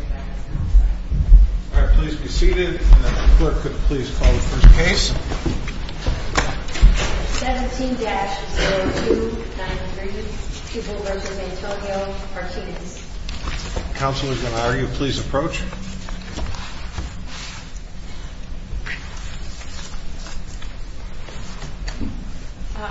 All right, please be seated, and if the clerk could please call the first case. 17-0293 Pupil v. Antonio Martinez. Counsel is going to argue. Please approach.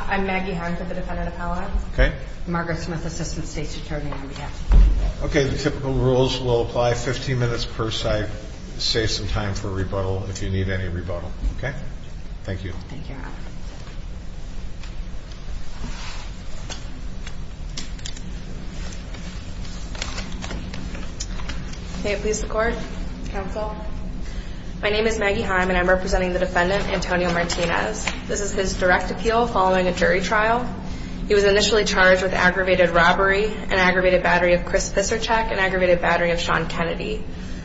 I'm Maggie Harn for the Defendant Appellate. Okay. Margaret Smith, Assistant State's Attorney on behalf. Okay, the typical rules will apply 15 minutes per side. Save some time for rebuttal if you need any rebuttal, okay? Thank you, Your Honor. May it please the Court. Counsel. My name is Maggie Heim, and I'm representing the Defendant, Antonio Martinez. This is his direct appeal following a jury trial. He was initially charged with aggravated robbery, an aggravated battery of Chris Piszczarczyk, an aggravated battery of Sean Kennedy.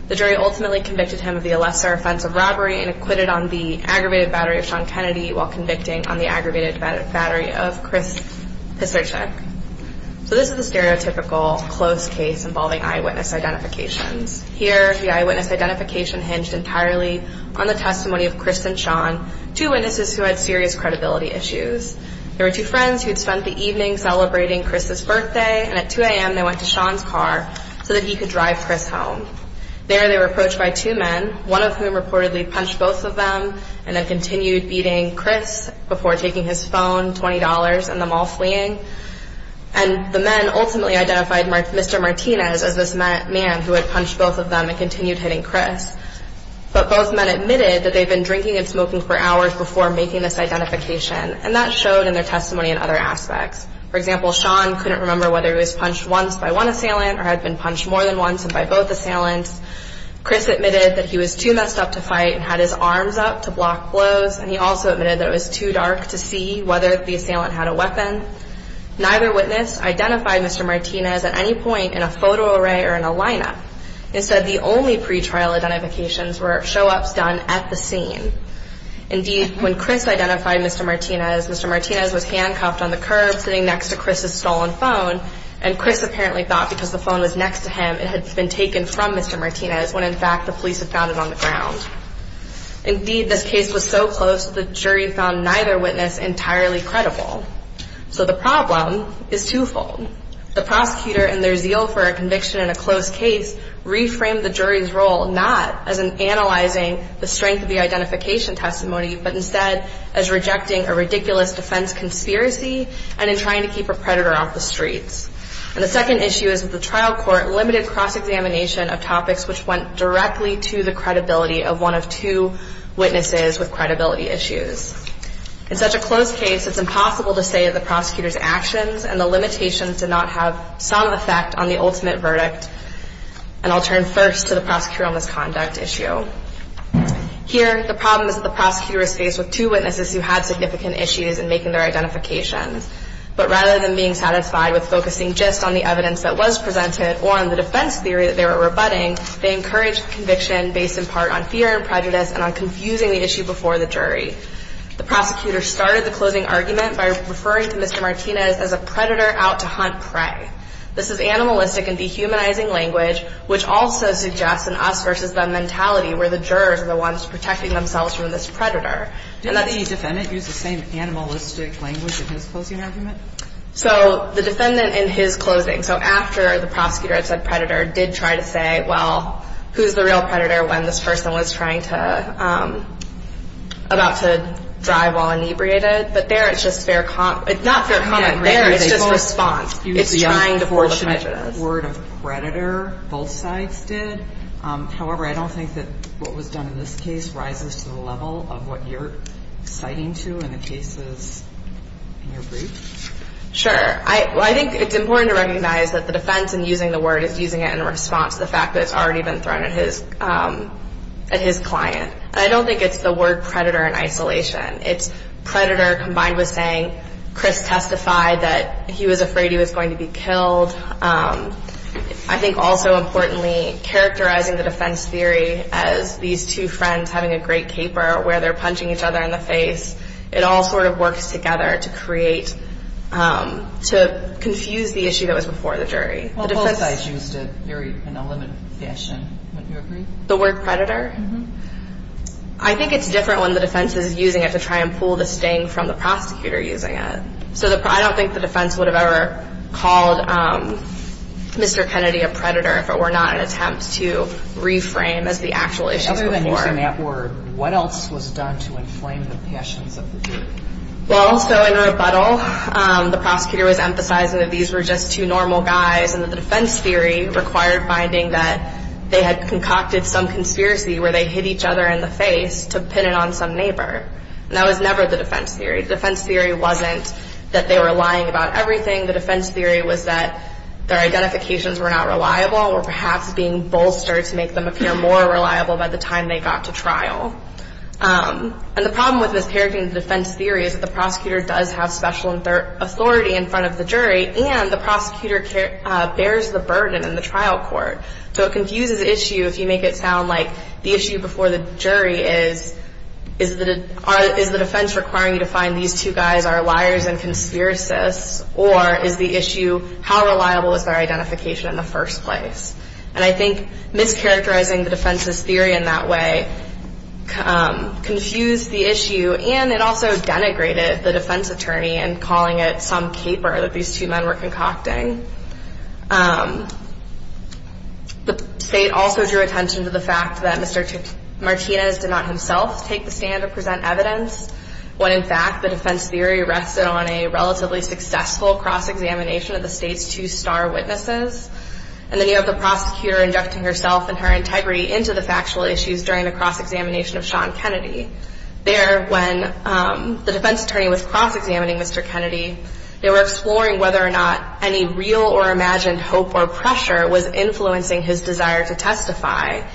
The jury ultimately convicted him of the lesser offense of robbery and acquitted on the aggravated battery of Sean Kennedy while convicting on the aggravated battery of Chris Piszczarczyk. So this is the stereotypical close case involving eyewitness identifications. Here, the eyewitness identification hinged entirely on the testimony of Chris and Sean, two witnesses who had serious credibility issues. There were two friends who had spent the evening celebrating Chris's birthday, and at 2 a.m. they went to Sean's car so that he could drive Chris home. There they were approached by two men, one of whom reportedly punched both of them and then continued beating Chris before taking his phone, $20, and them all fleeing. And the men ultimately identified Mr. Martinez as this man who had punched both of them and continued hitting Chris. But both men admitted that they had been drinking and smoking for hours before making this identification. And that showed in their testimony in other aspects. For example, Sean couldn't remember whether he was punched once by one assailant or had been punched more than once by both assailants. Chris admitted that he was too messed up to fight and had his arms up to block blows, and he also admitted that it was too dark to see whether the assailant had a weapon. Neither witness identified Mr. Martinez at any point in a photo array or in a lineup. Instead, the only pretrial identifications were show-ups done at the scene. Indeed, when Chris identified Mr. Martinez, Mr. Martinez was handcuffed on the curb sitting next to Chris's stolen phone, and Chris apparently thought because the phone was next to him it had been taken from Mr. Martinez when in fact the police had found it on the ground. Indeed, this case was so close that the jury found neither witness entirely credible. So the problem is twofold. The prosecutor and their zeal for a conviction in a close case reframed the jury's role not as in analyzing the strength of the identification testimony, but instead as rejecting a ridiculous defense conspiracy and in trying to keep a predator off the streets. And the second issue is that the trial court limited cross-examination of topics which went directly to the credibility of one of two witnesses with credibility issues. In such a close case, it's impossible to say that the prosecutor's actions and the limitations did not have some effect on the ultimate verdict. And I'll turn first to the prosecutorial misconduct issue. Here, the problem is that the prosecutor is faced with two witnesses who had significant issues in making their identifications. But rather than being satisfied with focusing just on the evidence that was presented or on the defense theory that they were rebutting, they encouraged the conviction based in part on fear and prejudice and on confusing the issue before the jury. The prosecutor started the closing argument by referring to Mr. Martinez as a predator out to hunt prey. This is animalistic and dehumanizing language, which also suggests an us-versus-them mentality where the jurors are the ones protecting themselves from this predator. And that's... Do you think the defendant used the same animalistic language in his closing argument? So the defendant in his closing, so after the prosecutor had said predator, did try to say, well, who's the real predator when this person was trying to – about to drive while inebriated? But there it's just fair – not fair comment. There it's just response. It's trying to pull the prejudice. You used the unfortunate word of predator. Both sides did. However, I don't think that what was done in this case rises to the level of what you're citing to in the cases in your brief. Sure. Well, I think it's important to recognize that the defense in using the word is using it in response to the fact that it's already been thrown at his client. And I don't think it's the word predator in isolation. It's predator combined with saying, Chris testified that he was afraid he was going to be killed. I think also importantly, characterizing the defense theory as these two friends having a great caper where they're punching each other in the face, it all sort of works together to create – to confuse the issue that was before the jury. Well, both sides used it very – in a limited fashion. Wouldn't you agree? The word predator? Mm-hmm. I think it's different when the defense is using it to try and pull the sting from the prosecutor using it. So I don't think the defense would have ever called Mr. Kennedy a predator if it were not an attempt to reframe as the actual issue before. Other than using that word, what else was done to inflame the passions of the jury? Well, so in rebuttal, the prosecutor was emphasizing that these were just two normal guys and that the defense theory required finding that they had concocted some conspiracy where they hit each other in the face to pin it on some neighbor. And that was never the defense theory. The defense theory wasn't that they were lying about everything. The defense theory was that their identifications were not reliable or perhaps being bolstered to make them appear more reliable by the time they got to trial. And the problem with this characterizing the defense theory is that the prosecutor does have special authority in front of the jury and the prosecutor bears the burden in the trial court. So it confuses the issue if you make it sound like the issue before the jury is is the defense requiring you to find these two guys are liars and conspiracists or is the issue how reliable is their identification in the first place? And I think mischaracterizing the defense's theory in that way confused the issue and it also denigrated the defense attorney in calling it some caper that these two men were concocting. The state also drew attention to the fact that Mr. Martinez did not himself take the stand or present evidence when, in fact, the defense theory rested on a relatively successful cross-examination of the state's two star witnesses. And then you have the prosecutor injecting herself and her integrity into the factual issues during the cross-examination of Sean Kennedy. There, when the defense attorney was cross-examining Mr. Kennedy, they were exploring whether or not any real or imagined hope or pressure was influencing his desire to testify.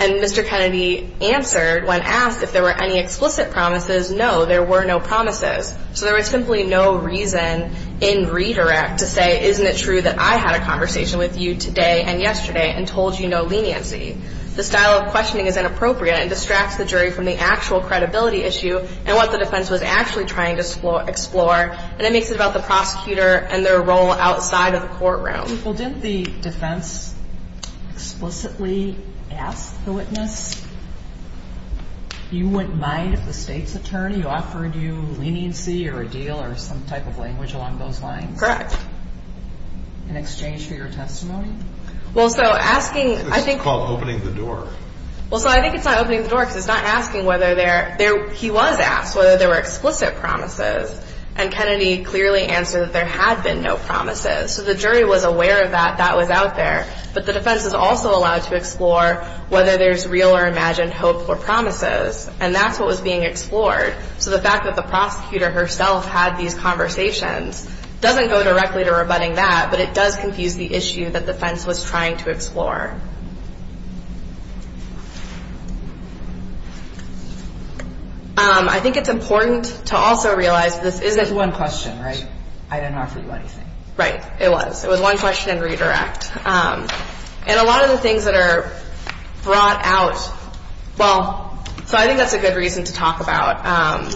And Mr. Kennedy answered when asked if there were any explicit promises, no, there were no promises. So there was simply no reason in redirect to say, isn't it true that I had a conversation with you today and yesterday and told you no leniency? The style of questioning is inappropriate and distracts the jury from the actual credibility issue and what the defense was actually trying to explore. And it makes it about the prosecutor and their role outside of the courtroom. Well, didn't the defense explicitly ask the witness, you wouldn't mind if the state's attorney offered you leniency or a deal or some type of language along those lines? Correct. In exchange for your testimony? Well, so asking, I think. It's called opening the door. Well, so I think it's not opening the door because it's not asking whether there, he was asked whether there were explicit promises. And Kennedy clearly answered that there had been no promises. So the jury was aware that that was out there. But the defense is also allowed to explore whether there's real or imagined hope or promises. And that's what was being explored. So the fact that the prosecutor herself had these conversations doesn't go directly to rebutting that, but it does confuse the issue that the defense was trying to explore. I think it's important to also realize this isn't one question, right? I didn't offer you anything. Right. It was. It was one question and redirect. And a lot of the things that are brought out, well, so I think that's a good reason to talk about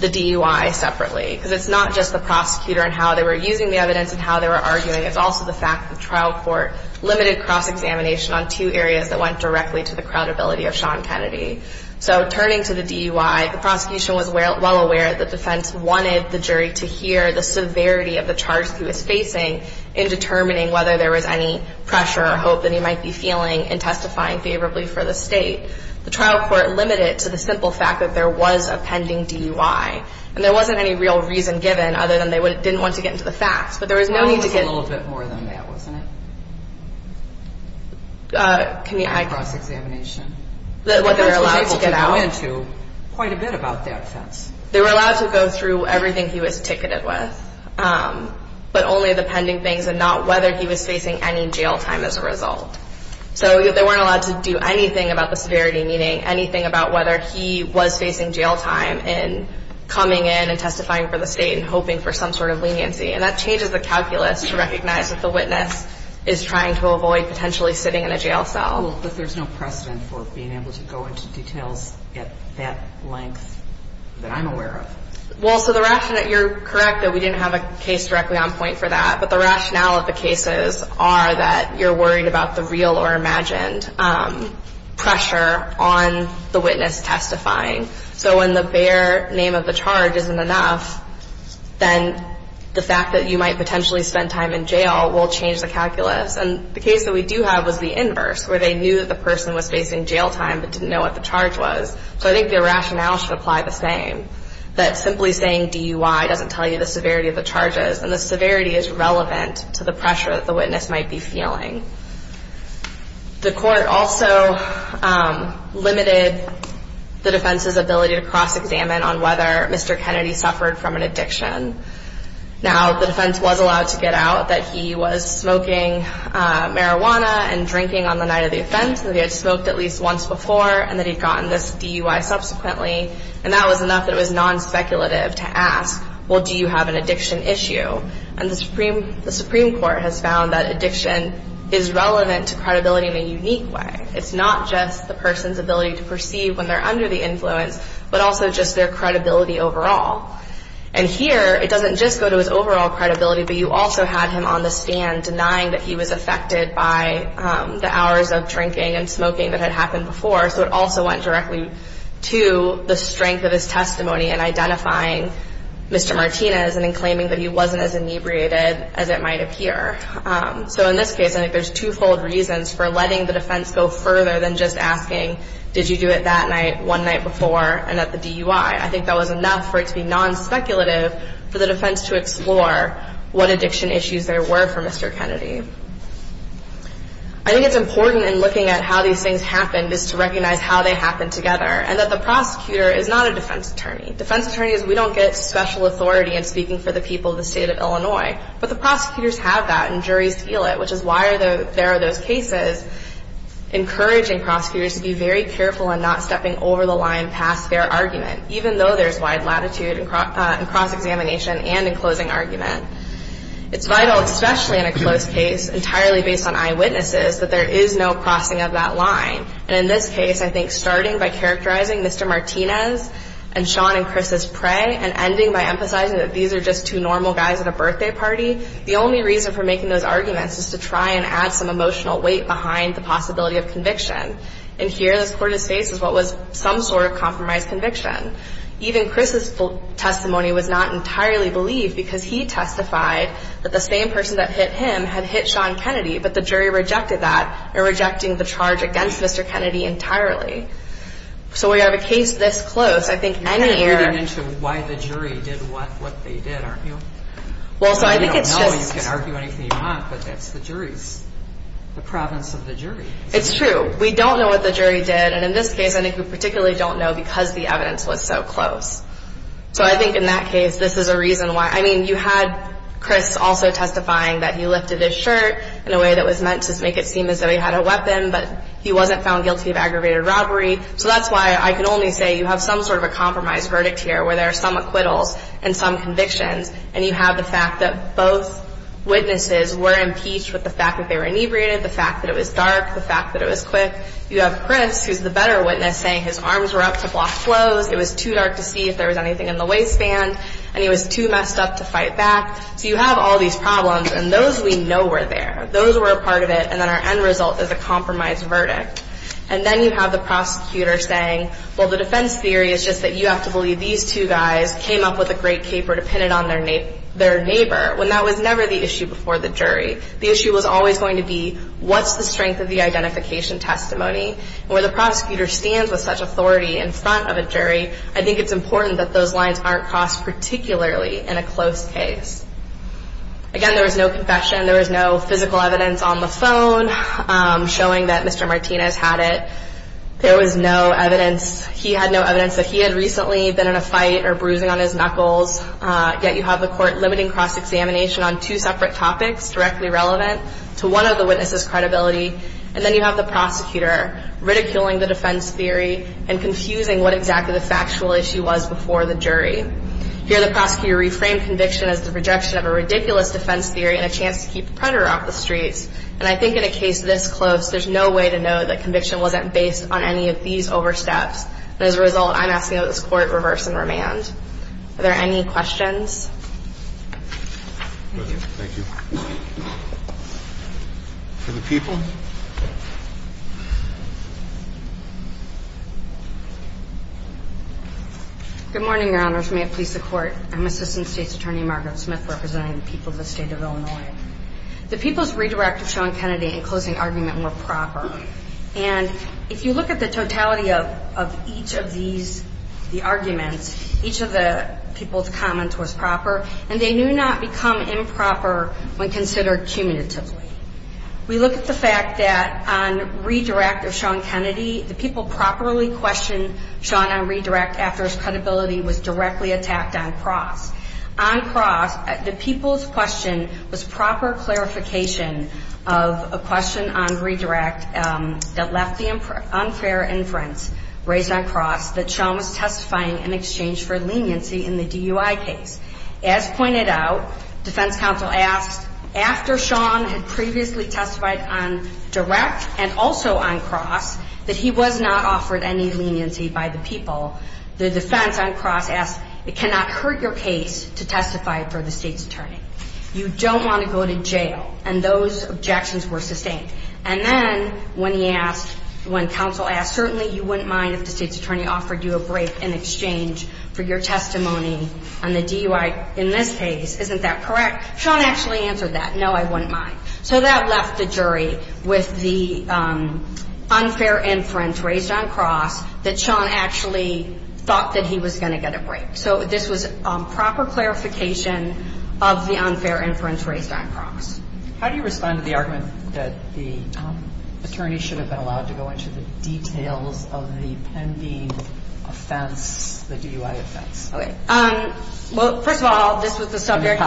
the DUI separately. Because it's not just the prosecutor and how they were using the evidence and how they were arguing. It's also the fact that the trial court limited cross-examination on two areas that went directly to the credibility of Sean Kennedy. So turning to the DUI, the prosecution was well aware that the defense wanted the jury to hear the severity of the charge that he was facing in determining whether there was any pressure or hope that he might be feeling in testifying favorably for the State. The trial court limited it to the simple fact that there was a pending DUI. And there wasn't any real reason given other than they didn't want to get into the facts. But there was no need to get into the facts. Well, it was a little bit more than that, wasn't it? Cross-examination? What they were allowed to get out. You weren't able to go into quite a bit about that offense. They were allowed to go through everything he was ticketed with, but only the pending things and not whether he was facing any jail time as a result. So they weren't allowed to do anything about the severity, meaning anything about whether he was facing jail time and coming in and testifying for the State and hoping for some sort of leniency. And that changes the calculus to recognize that the witness is trying to avoid potentially sitting in a jail cell. But there's no precedent for being able to go into details at that length that I'm aware of. Well, so the rationale, you're correct that we didn't have a case directly on point for that. But the rationale of the cases are that you're worried about the real or imagined pressure on the witness testifying. So when the bare name of the charge isn't enough, then the fact that you might potentially spend time in jail will change the calculus. And the case that we do have was the inverse, where they knew that the person was facing jail time but didn't know what the charge was. So I think the rationale should apply the same, that simply saying DUI doesn't tell you the severity of the charges. And the severity is relevant to the pressure that the witness might be feeling. The court also limited the defense's ability to cross-examine on whether Mr. Kennedy suffered from an addiction. Now, the defense was allowed to get out that he was smoking marijuana and drinking on the night of the offense, that he had smoked at least once before, and that he'd gotten this DUI subsequently. And that was enough that it was non-speculative to ask, well, do you have an addiction issue? And the Supreme Court has found that addiction is relevant to credibility in a unique way. It's not just the person's ability to perceive when they're under the influence, but also just their credibility overall. And here, it doesn't just go to his overall credibility, but you also had him on the stand denying that he was affected by the hours of drinking and smoking that had happened before. So it also went directly to the strength of his testimony in identifying Mr. Martinez and in claiming that he wasn't as inebriated as it might appear. So in this case, I think there's twofold reasons for letting the defense go further than just asking, did you do it that night, one night before, and at the DUI? I think that was enough for it to be non-speculative for the defense to explore what addiction issues there were for Mr. Kennedy. I think it's important in looking at how these things happened is to recognize how they happened together and that the prosecutor is not a defense attorney. Defense attorneys, we don't get special authority in speaking for the people of the state of Illinois, but the prosecutors have that and juries feel it, which is why there are those cases encouraging prosecutors to be very careful in not stepping over the line past their argument, even though there's wide latitude in cross-examination and in closing argument. It's vital, especially in a closed case, entirely based on eyewitnesses, that there is no crossing of that line. And in this case, I think starting by characterizing Mr. Martinez and Sean and Chris's prey and ending by emphasizing that these are just two normal guys at a birthday party, the only reason for making those arguments is to try and add some emotional weight behind the possibility of conviction. And here, this Court has faced is what was some sort of compromised conviction. Even Chris's testimony was not entirely believed because he testified that the same person that hit him had hit Sean Kennedy, but the jury rejected that, rejecting the charge against Mr. Kennedy entirely. So we have a case this close. I think any year... You're getting into why the jury did what they did, aren't you? Well, so I think it's just... You don't know, you can argue anything you want, but that's the jury's, the province of the jury. It's true. We don't know what the jury did, and in this case, I think we particularly don't know because the evidence was so close. So I think in that case, this is a reason why. I mean, you had Chris also testifying that he lifted his shirt in a way that was meant to make it seem as though he had a weapon, but he wasn't found guilty of aggravated robbery. So that's why I can only say you have some sort of a compromised verdict here where there are some acquittals and some convictions, and you have the fact that both witnesses were impeached with the fact that they were inebriated, the fact that it was dark, the fact that it was quick. You have Chris, who's the better witness, saying his arms were up to block flows, it was too dark to see if there was anything in the waistband, and he was too messed up to fight back. So you have all these problems, and those we know were there. Those were a part of it, and then our end result is a compromised verdict. And then you have the prosecutor saying, well, the defense theory is just that you have to believe these two guys came up with a great caper to pin it on their neighbor, when that was never the issue before the jury. The issue was always going to be what's the strength of the identification testimony, and where the prosecutor stands with such authority in front of a jury, I think it's important that those lines aren't crossed particularly in a close case. Again, there was no confession. There was no physical evidence on the phone showing that Mr. Martinez had it. There was no evidence. He had no evidence that he had recently been in a fight or bruising on his knuckles, yet you have the court limiting cross-examination on two separate topics directly relevant to one of the witnesses' credibility. And then you have the prosecutor ridiculing the defense theory and confusing what exactly the factual issue was before the jury. Here the prosecutor reframed conviction as the rejection of a ridiculous defense theory and a chance to keep the predator off the streets. And I think in a case this close, there's no way to know that conviction wasn't based on any of these oversteps. And as a result, I'm asking that this Court reverse and remand. Are there any questions? Thank you. For the people. Good morning, Your Honors. May it please the Court. I'm Assistant State's Attorney Margaret Smith representing the people of the State of Illinois. The people's redirect of Sean Kennedy in closing argument were proper. And if you look at the totality of each of these, the arguments, each of the people's comments was proper. And they do not become improper when considered cumulatively. We look at the fact that on redirect of Sean Kennedy, the people properly questioned Sean on redirect after his credibility was directly attacked on cross. On cross, the people's question was proper clarification of a question on redirect that left the unfair inference raised on cross that Sean was testifying in exchange for leniency in the DUI case. As pointed out, defense counsel asked, after Sean had previously testified on direct and also on cross, that he was not offered any leniency by the people, the defense on cross asked, it cannot hurt your case to testify for the State's Attorney. You don't want to go to jail. And those objections were sustained. And then when he asked, when counsel asked, certainly you wouldn't mind if the State's Attorney offered you a break in exchange for your testimony on the DUI, in this case, isn't that correct? Sean actually answered that, no, I wouldn't mind. So that left the jury with the unfair inference raised on cross that Sean actually thought that he was going to get a break. So this was proper clarification of the unfair inference raised on cross. How do you respond to the argument that the attorney should have been allowed to go into the details of the pending offense, the DUI offense? Okay. Well, first of all, this was the subject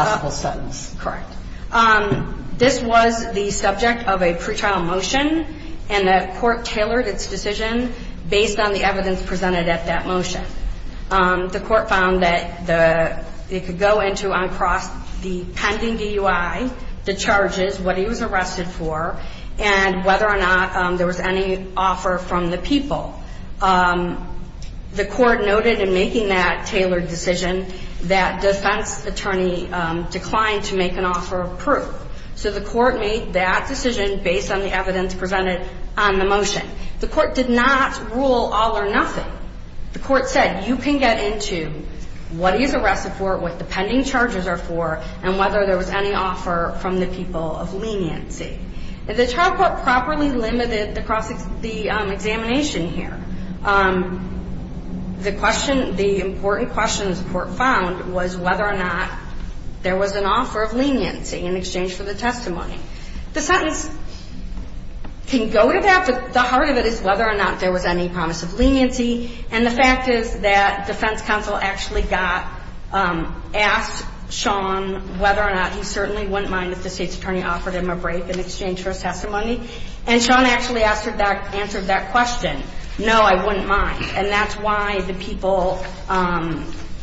of a pre-trial motion, and the court tailored its decision based on the evidence presented at that motion. The court found that it could go into on cross the pending DUI, the charges, what he was arrested for, and whether or not there was any offer from the people. The court noted in making that tailored decision that defense attorney declined to make an offer of proof. So the court made that decision based on the evidence presented on the motion. The court did not rule all or nothing. The court said you can get into what he was arrested for, what the pending charges are for, and whether there was any offer from the people of leniency. If the trial court properly limited the examination here, the question, the important question the court found was whether or not there was an offer of leniency in exchange for the testimony. The sentence can go to that, but the heart of it is whether or not there was any promise of leniency. And the fact is that defense counsel actually got, asked Sean whether or not he certainly wouldn't mind if the state's attorney offered him a break in exchange for a testimony. And Sean actually answered that question, no, I wouldn't mind. And that's why the people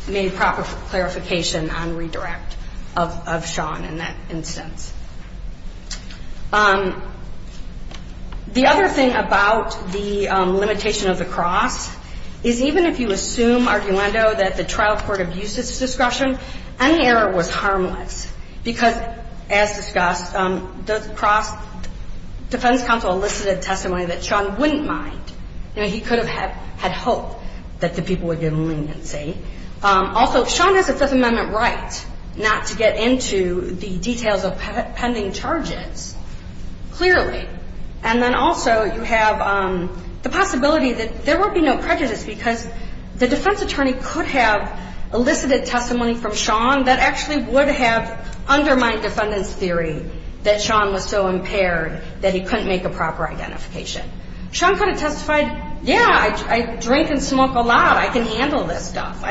made proper clarification on redirect of Sean in that instance. The other thing about the limitation of the cross is even if you assume, arguendo, that the trial court abused its discretion, any error was harmless, because as discussed, the cross, defense counsel elicited testimony that Sean wouldn't mind. You know, he could have had hope that the people would get leniency. Also, Sean has a Fifth Amendment right not to get into the details of pending charges, clearly. And then also you have the possibility that there would be no prejudice because the defense attorney could have elicited testimony from Sean that actually would have undermined defendant's theory that Sean was so impaired that he couldn't make a proper identification. Sean could have testified, yeah, I drink and smoke a lot. I can handle this stuff.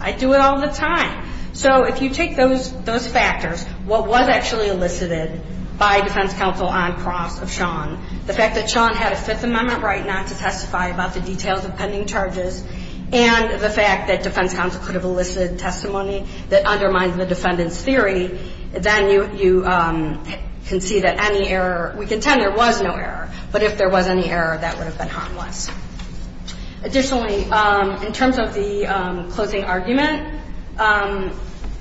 I do it all the time. So if you take those factors, what was actually elicited by defense counsel on cross of Sean, the fact that Sean had a Fifth Amendment right not to testify about the details of pending charges, and the fact that defense counsel could have elicited testimony that undermines the defendant's theory, then you can see that any error, we contend there was no error. But if there was any error, that would have been harmless. Additionally, in terms of the closing argument,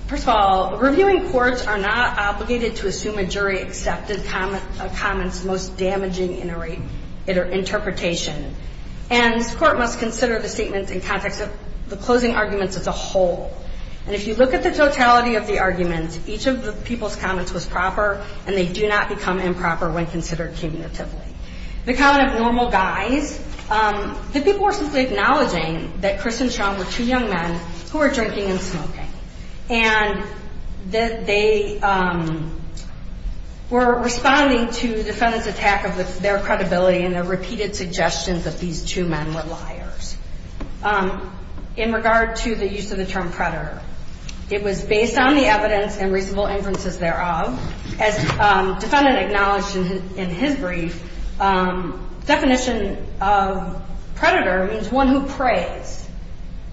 first of all, reviewing courts are not obligated to assume a jury accepted a comment's most damaging interpretation. And this Court must consider the statements in context of the closing arguments as a whole. And if you look at the totality of the arguments, each of the people's comments was proper, and they do not become improper when considered cumulatively. The comment of normal guys, the people were simply acknowledging that Chris and Sean were two young men who were drinking and smoking. And they were responding to the defendant's attack of their credibility and their repeated suggestions that these two men were liars. In regard to the use of the term predator, it was based on the evidence and reasonable inferences thereof, as the defendant acknowledged in his brief, the definition of predator means one who prays.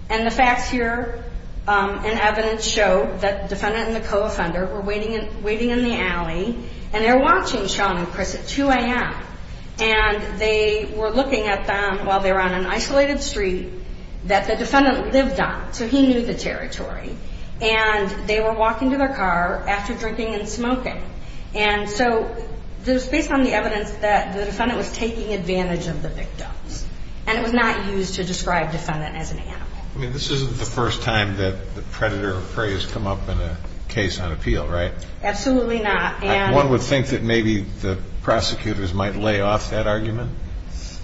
And the facts here and evidence show that the defendant and the co-offender were waiting in the alley, and they were watching Sean and Chris at 2 a.m., and they were looking at them while they were on an isolated street that the defendant lived on, so he knew the territory. And they were walking to their car after drinking and smoking. And so it was based on the evidence that the defendant was taking advantage of the victims, and it was not used to describe defendant as an animal. I mean, this isn't the first time that the predator or prey has come up in a case on appeal, right? Absolutely not. One would think that maybe the prosecutors might lay off that argument.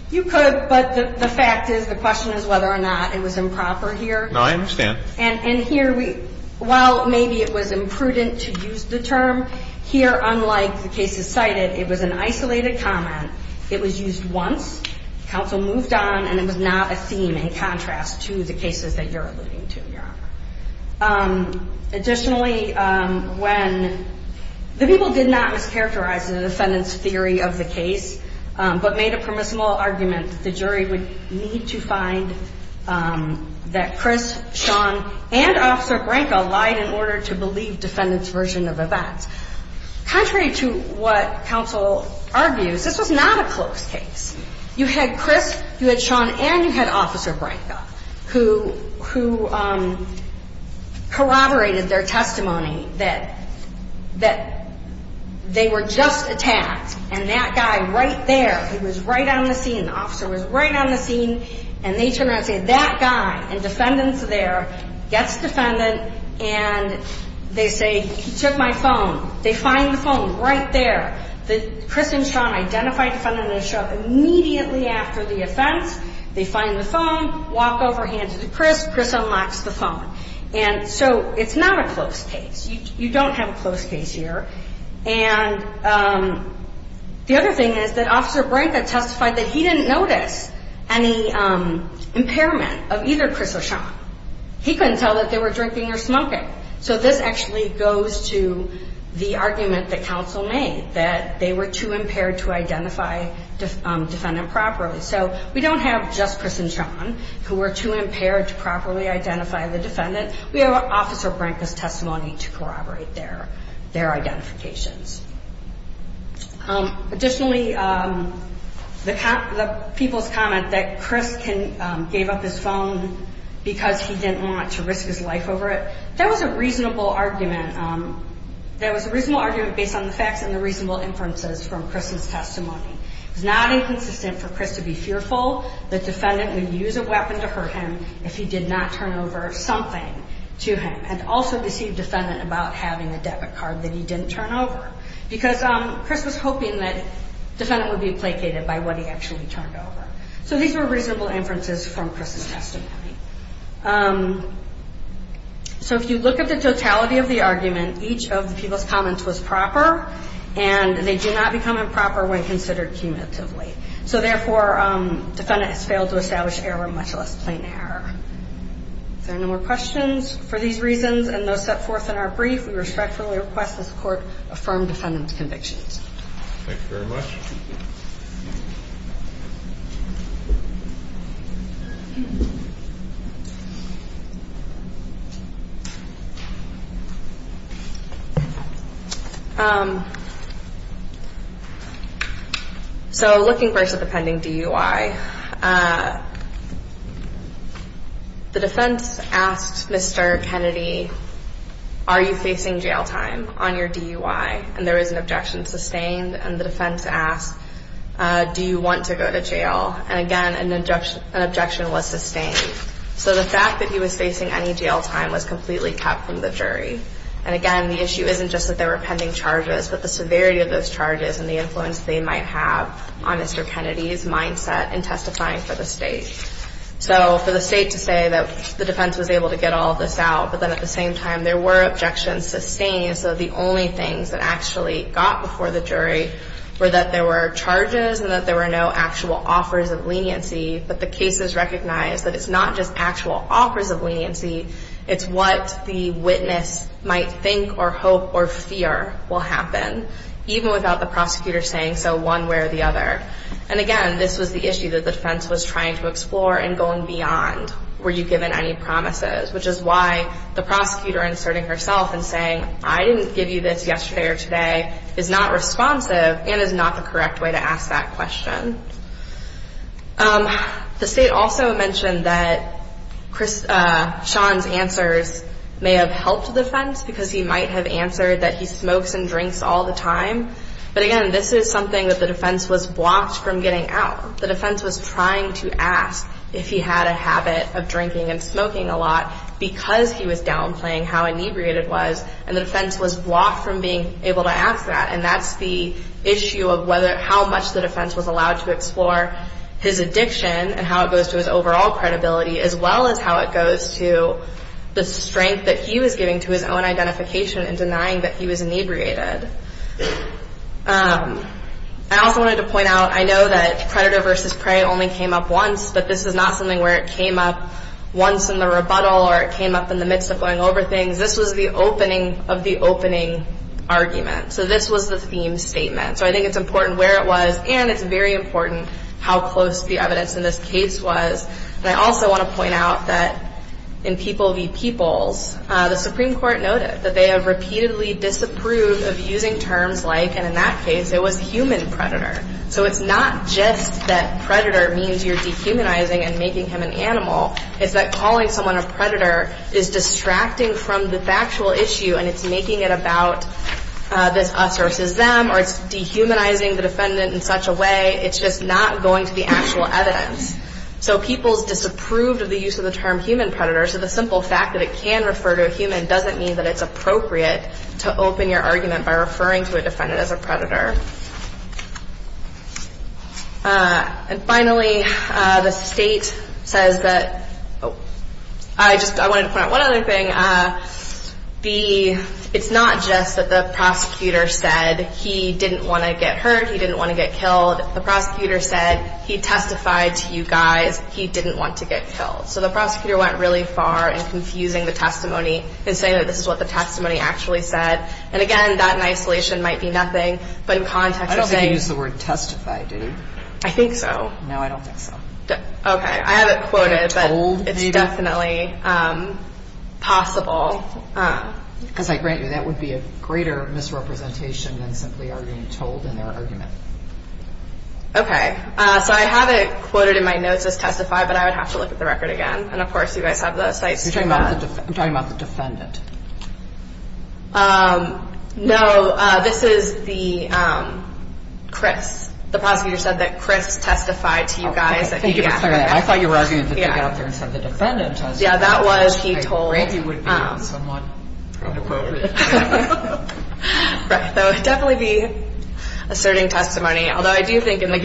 You could, but the fact is the question is whether or not it was improper here. No, I understand. And here, while maybe it was imprudent to use the term, here, unlike the cases cited, it was an isolated comment. It was used once. Counsel moved on, and it was not a theme in contrast to the cases that you're alluding to, Your Honor. Additionally, when the people did not mischaracterize the defendant's theory of the case, but made a permissible argument that the jury would need to find that Chris, Sean, and Officer Branca lied in order to believe defendant's version of events, contrary to what counsel argues, this was not a close case. You had Chris, you had Sean, and you had Officer Branca, who corroborated their testimony that they were just attacked, and that guy right there, he was right on the scene, the officer was right on the scene, and they turn around and say, that guy, and defendant's there, gets defendant, and they say, he took my phone. They find the phone right there. Chris and Sean identify defendant and show up immediately after the offense. They find the phone, walk over, hands it to Chris. Chris unlocks the phone. And so it's not a close case. You don't have a close case here. And the other thing is that Officer Branca testified that he didn't notice any impairment of either Chris or Sean. He couldn't tell that they were drinking or smoking. So this actually goes to the argument that counsel made, that they were too impaired to identify defendant properly. So we don't have just Chris and Sean who were too impaired to properly identify the defendant. We have Officer Branca's testimony to corroborate their identifications. Additionally, the people's comment that Chris gave up his phone because he didn't want to risk his life over it, that was a reasonable argument. That was a reasonable argument based on the facts and the reasonable inferences from Chris's testimony. It was not inconsistent for Chris to be fearful that defendant would use a weapon to hurt him if he did not turn over something to him and also deceive defendant about having a debit card that he didn't turn over because Chris was hoping that defendant would be placated by what he actually turned over. So these were reasonable inferences from Chris's testimony. So if you look at the totality of the argument, each of the people's comments was proper, and they do not become improper when considered cumulatively. So therefore, defendant has failed to establish error much less plain error. If there are no more questions for these reasons and those set forth in our brief, we respectfully request this Court affirm defendant's convictions. Thank you very much. Thank you. So looking first at the pending DUI, the defense asked Mr. Kennedy, are you facing jail time on your DUI? And there was an objection sustained, and the defense asked, do you want to go to jail? And again, an objection was sustained. So the fact that he was facing any jail time was completely kept from the jury. And again, the issue isn't just that there were pending charges, but the severity of those charges and the influence they might have on Mr. Kennedy's mindset in testifying for the state. So for the state to say that the defense was able to get all this out, but then at the same time there were objections sustained, so the only things that actually got before the jury were that there were charges and that there were no actual offers of leniency, but the cases recognized that it's not just actual offers of leniency, it's what the witness might think or hope or fear will happen, even without the prosecutor saying so one way or the other. And again, this was the issue that the defense was trying to explore and going beyond, were you given any promises, which is why the prosecutor inserting herself and saying, I didn't give you this yesterday or today, is not responsive and is not the correct way to ask that question. The state also mentioned that Sean's answers may have helped the defense because he might have answered that he smokes and drinks all the time. But again, this is something that the defense was blocked from getting out. The defense was trying to ask if he had a habit of drinking and smoking a lot because he was downplaying how inebriated he was, and the defense was blocked from being able to ask that. And that's the issue of how much the defense was allowed to explore his addiction and how it goes to his overall credibility, as well as how it goes to the strength that he was giving to his own identification in denying that he was inebriated. I also wanted to point out, I know that predator versus prey only came up once, but this is not something where it came up once in the rebuttal or it came up in the midst of going over things. This was the opening of the opening argument. So this was the theme statement. So I think it's important where it was, and it's very important how close the evidence in this case was. And I also want to point out that in People v. Peoples, the Supreme Court noted that they have repeatedly disapproved of using terms like, and in that case it was human predator. So it's not just that predator means you're dehumanizing and making him an animal. It's that calling someone a predator is distracting from the factual issue, and it's making it about this us versus them, or it's dehumanizing the defendant in such a way. It's just not going to the actual evidence. So People's disapproved of the use of the term human predator. So the simple fact that it can refer to a human doesn't mean that it's appropriate to open your argument by referring to a defendant as a predator. And finally, the state says that, oh, I just wanted to point out one other thing. It's not just that the prosecutor said he didn't want to get hurt, he didn't want to get killed. The prosecutor said he testified to you guys he didn't want to get killed. So the prosecutor went really far in confusing the testimony and saying that this is what the testimony actually said. And, again, that in isolation might be nothing, but in context of saying. I don't think he used the word testify, did he? I think so. No, I don't think so. Okay. I have it quoted, but it's definitely possible. Because I grant you that would be a greater misrepresentation than simply arguing told in their argument. Okay. So I have it quoted in my notes as testify, but I would have to look at the record again. And, of course, you guys have the sites. I'm talking about the defendant. No, this is the Chris. The prosecutor said that Chris testified to you guys. I thought you were arguing that they got up there and said the defendant testified. Yeah, that was he told. I grant you it would be somewhat appropriate. Right. That would definitely be asserting testimony. Although I do think in the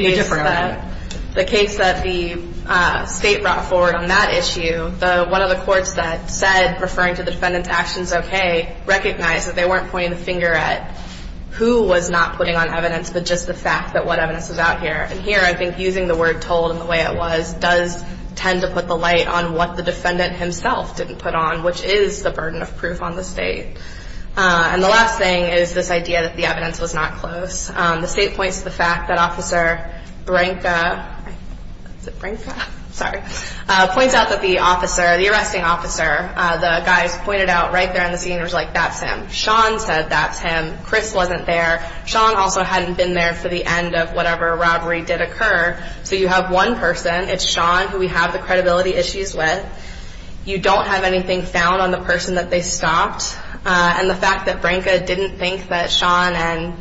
case that the state brought forward on that issue, one of the courts that said referring to the defendant's actions okay recognized that they weren't pointing the finger at who was not putting on evidence, but just the fact that what evidence is out here. And here I think using the word told and the way it was does tend to put the light on what the defendant himself didn't put on, which is the burden of proof on the state. And the last thing is this idea that the evidence was not close. The state points to the fact that Officer Branca, is it Branca? Sorry, points out that the officer, the arresting officer, the guys pointed out right there on the scene was like that's him. Sean said that's him. Chris wasn't there. Sean also hadn't been there for the end of whatever robbery did occur. So you have one person. It's Sean who we have the credibility issues with. You don't have anything found on the person that they stopped. And the fact that Branca didn't think that Sean and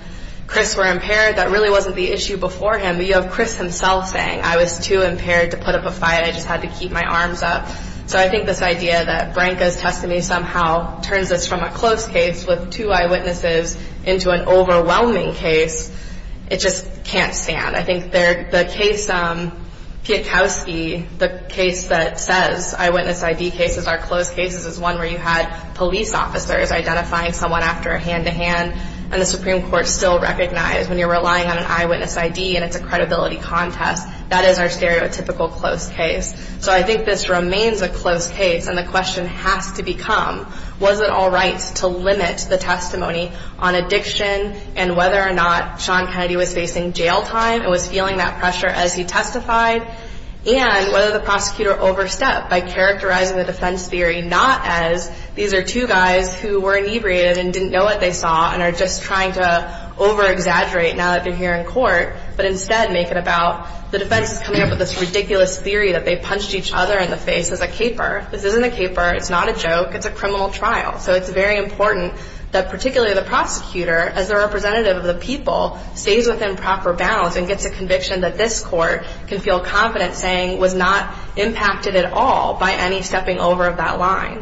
Chris were impaired, that really wasn't the issue before him. But you have Chris himself saying I was too impaired to put up a fight. I just had to keep my arms up. So I think this idea that Branca's testimony somehow turns this from a close case with two eyewitnesses into an overwhelming case, it just can't stand. I think the case Piekowski, the case that says eyewitness ID cases are close cases, is one where you had police officers identifying someone after a hand-to-hand, and the Supreme Court still recognized when you're relying on an eyewitness ID and it's a credibility contest, that is our stereotypical close case. So I think this remains a close case, and the question has to become, was it all right to limit the testimony on addiction and whether or not Sean Kennedy was facing jail time and was feeling that pressure as he testified, and whether the prosecutor overstepped by characterizing the defense theory not as these are two guys who were inebriated and didn't know what they saw and are just trying to over-exaggerate now that they're here in court, but instead make it about the defense is coming up with this ridiculous theory that they punched each other in the face as a caper. This isn't a caper. It's not a joke. It's a criminal trial. So it's very important that particularly the prosecutor, as the representative of the people, stays within proper bounds and gets a conviction that this court can feel confident saying was not impacted at all by any stepping over of that line.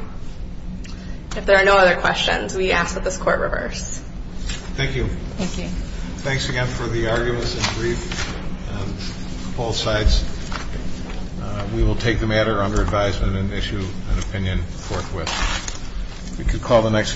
If there are no other questions, we ask that this court reverse. Thank you. Thank you. Thanks again for the arguments and briefs on both sides. We will take the matter under advisement and issue an opinion forthwith. Thank you.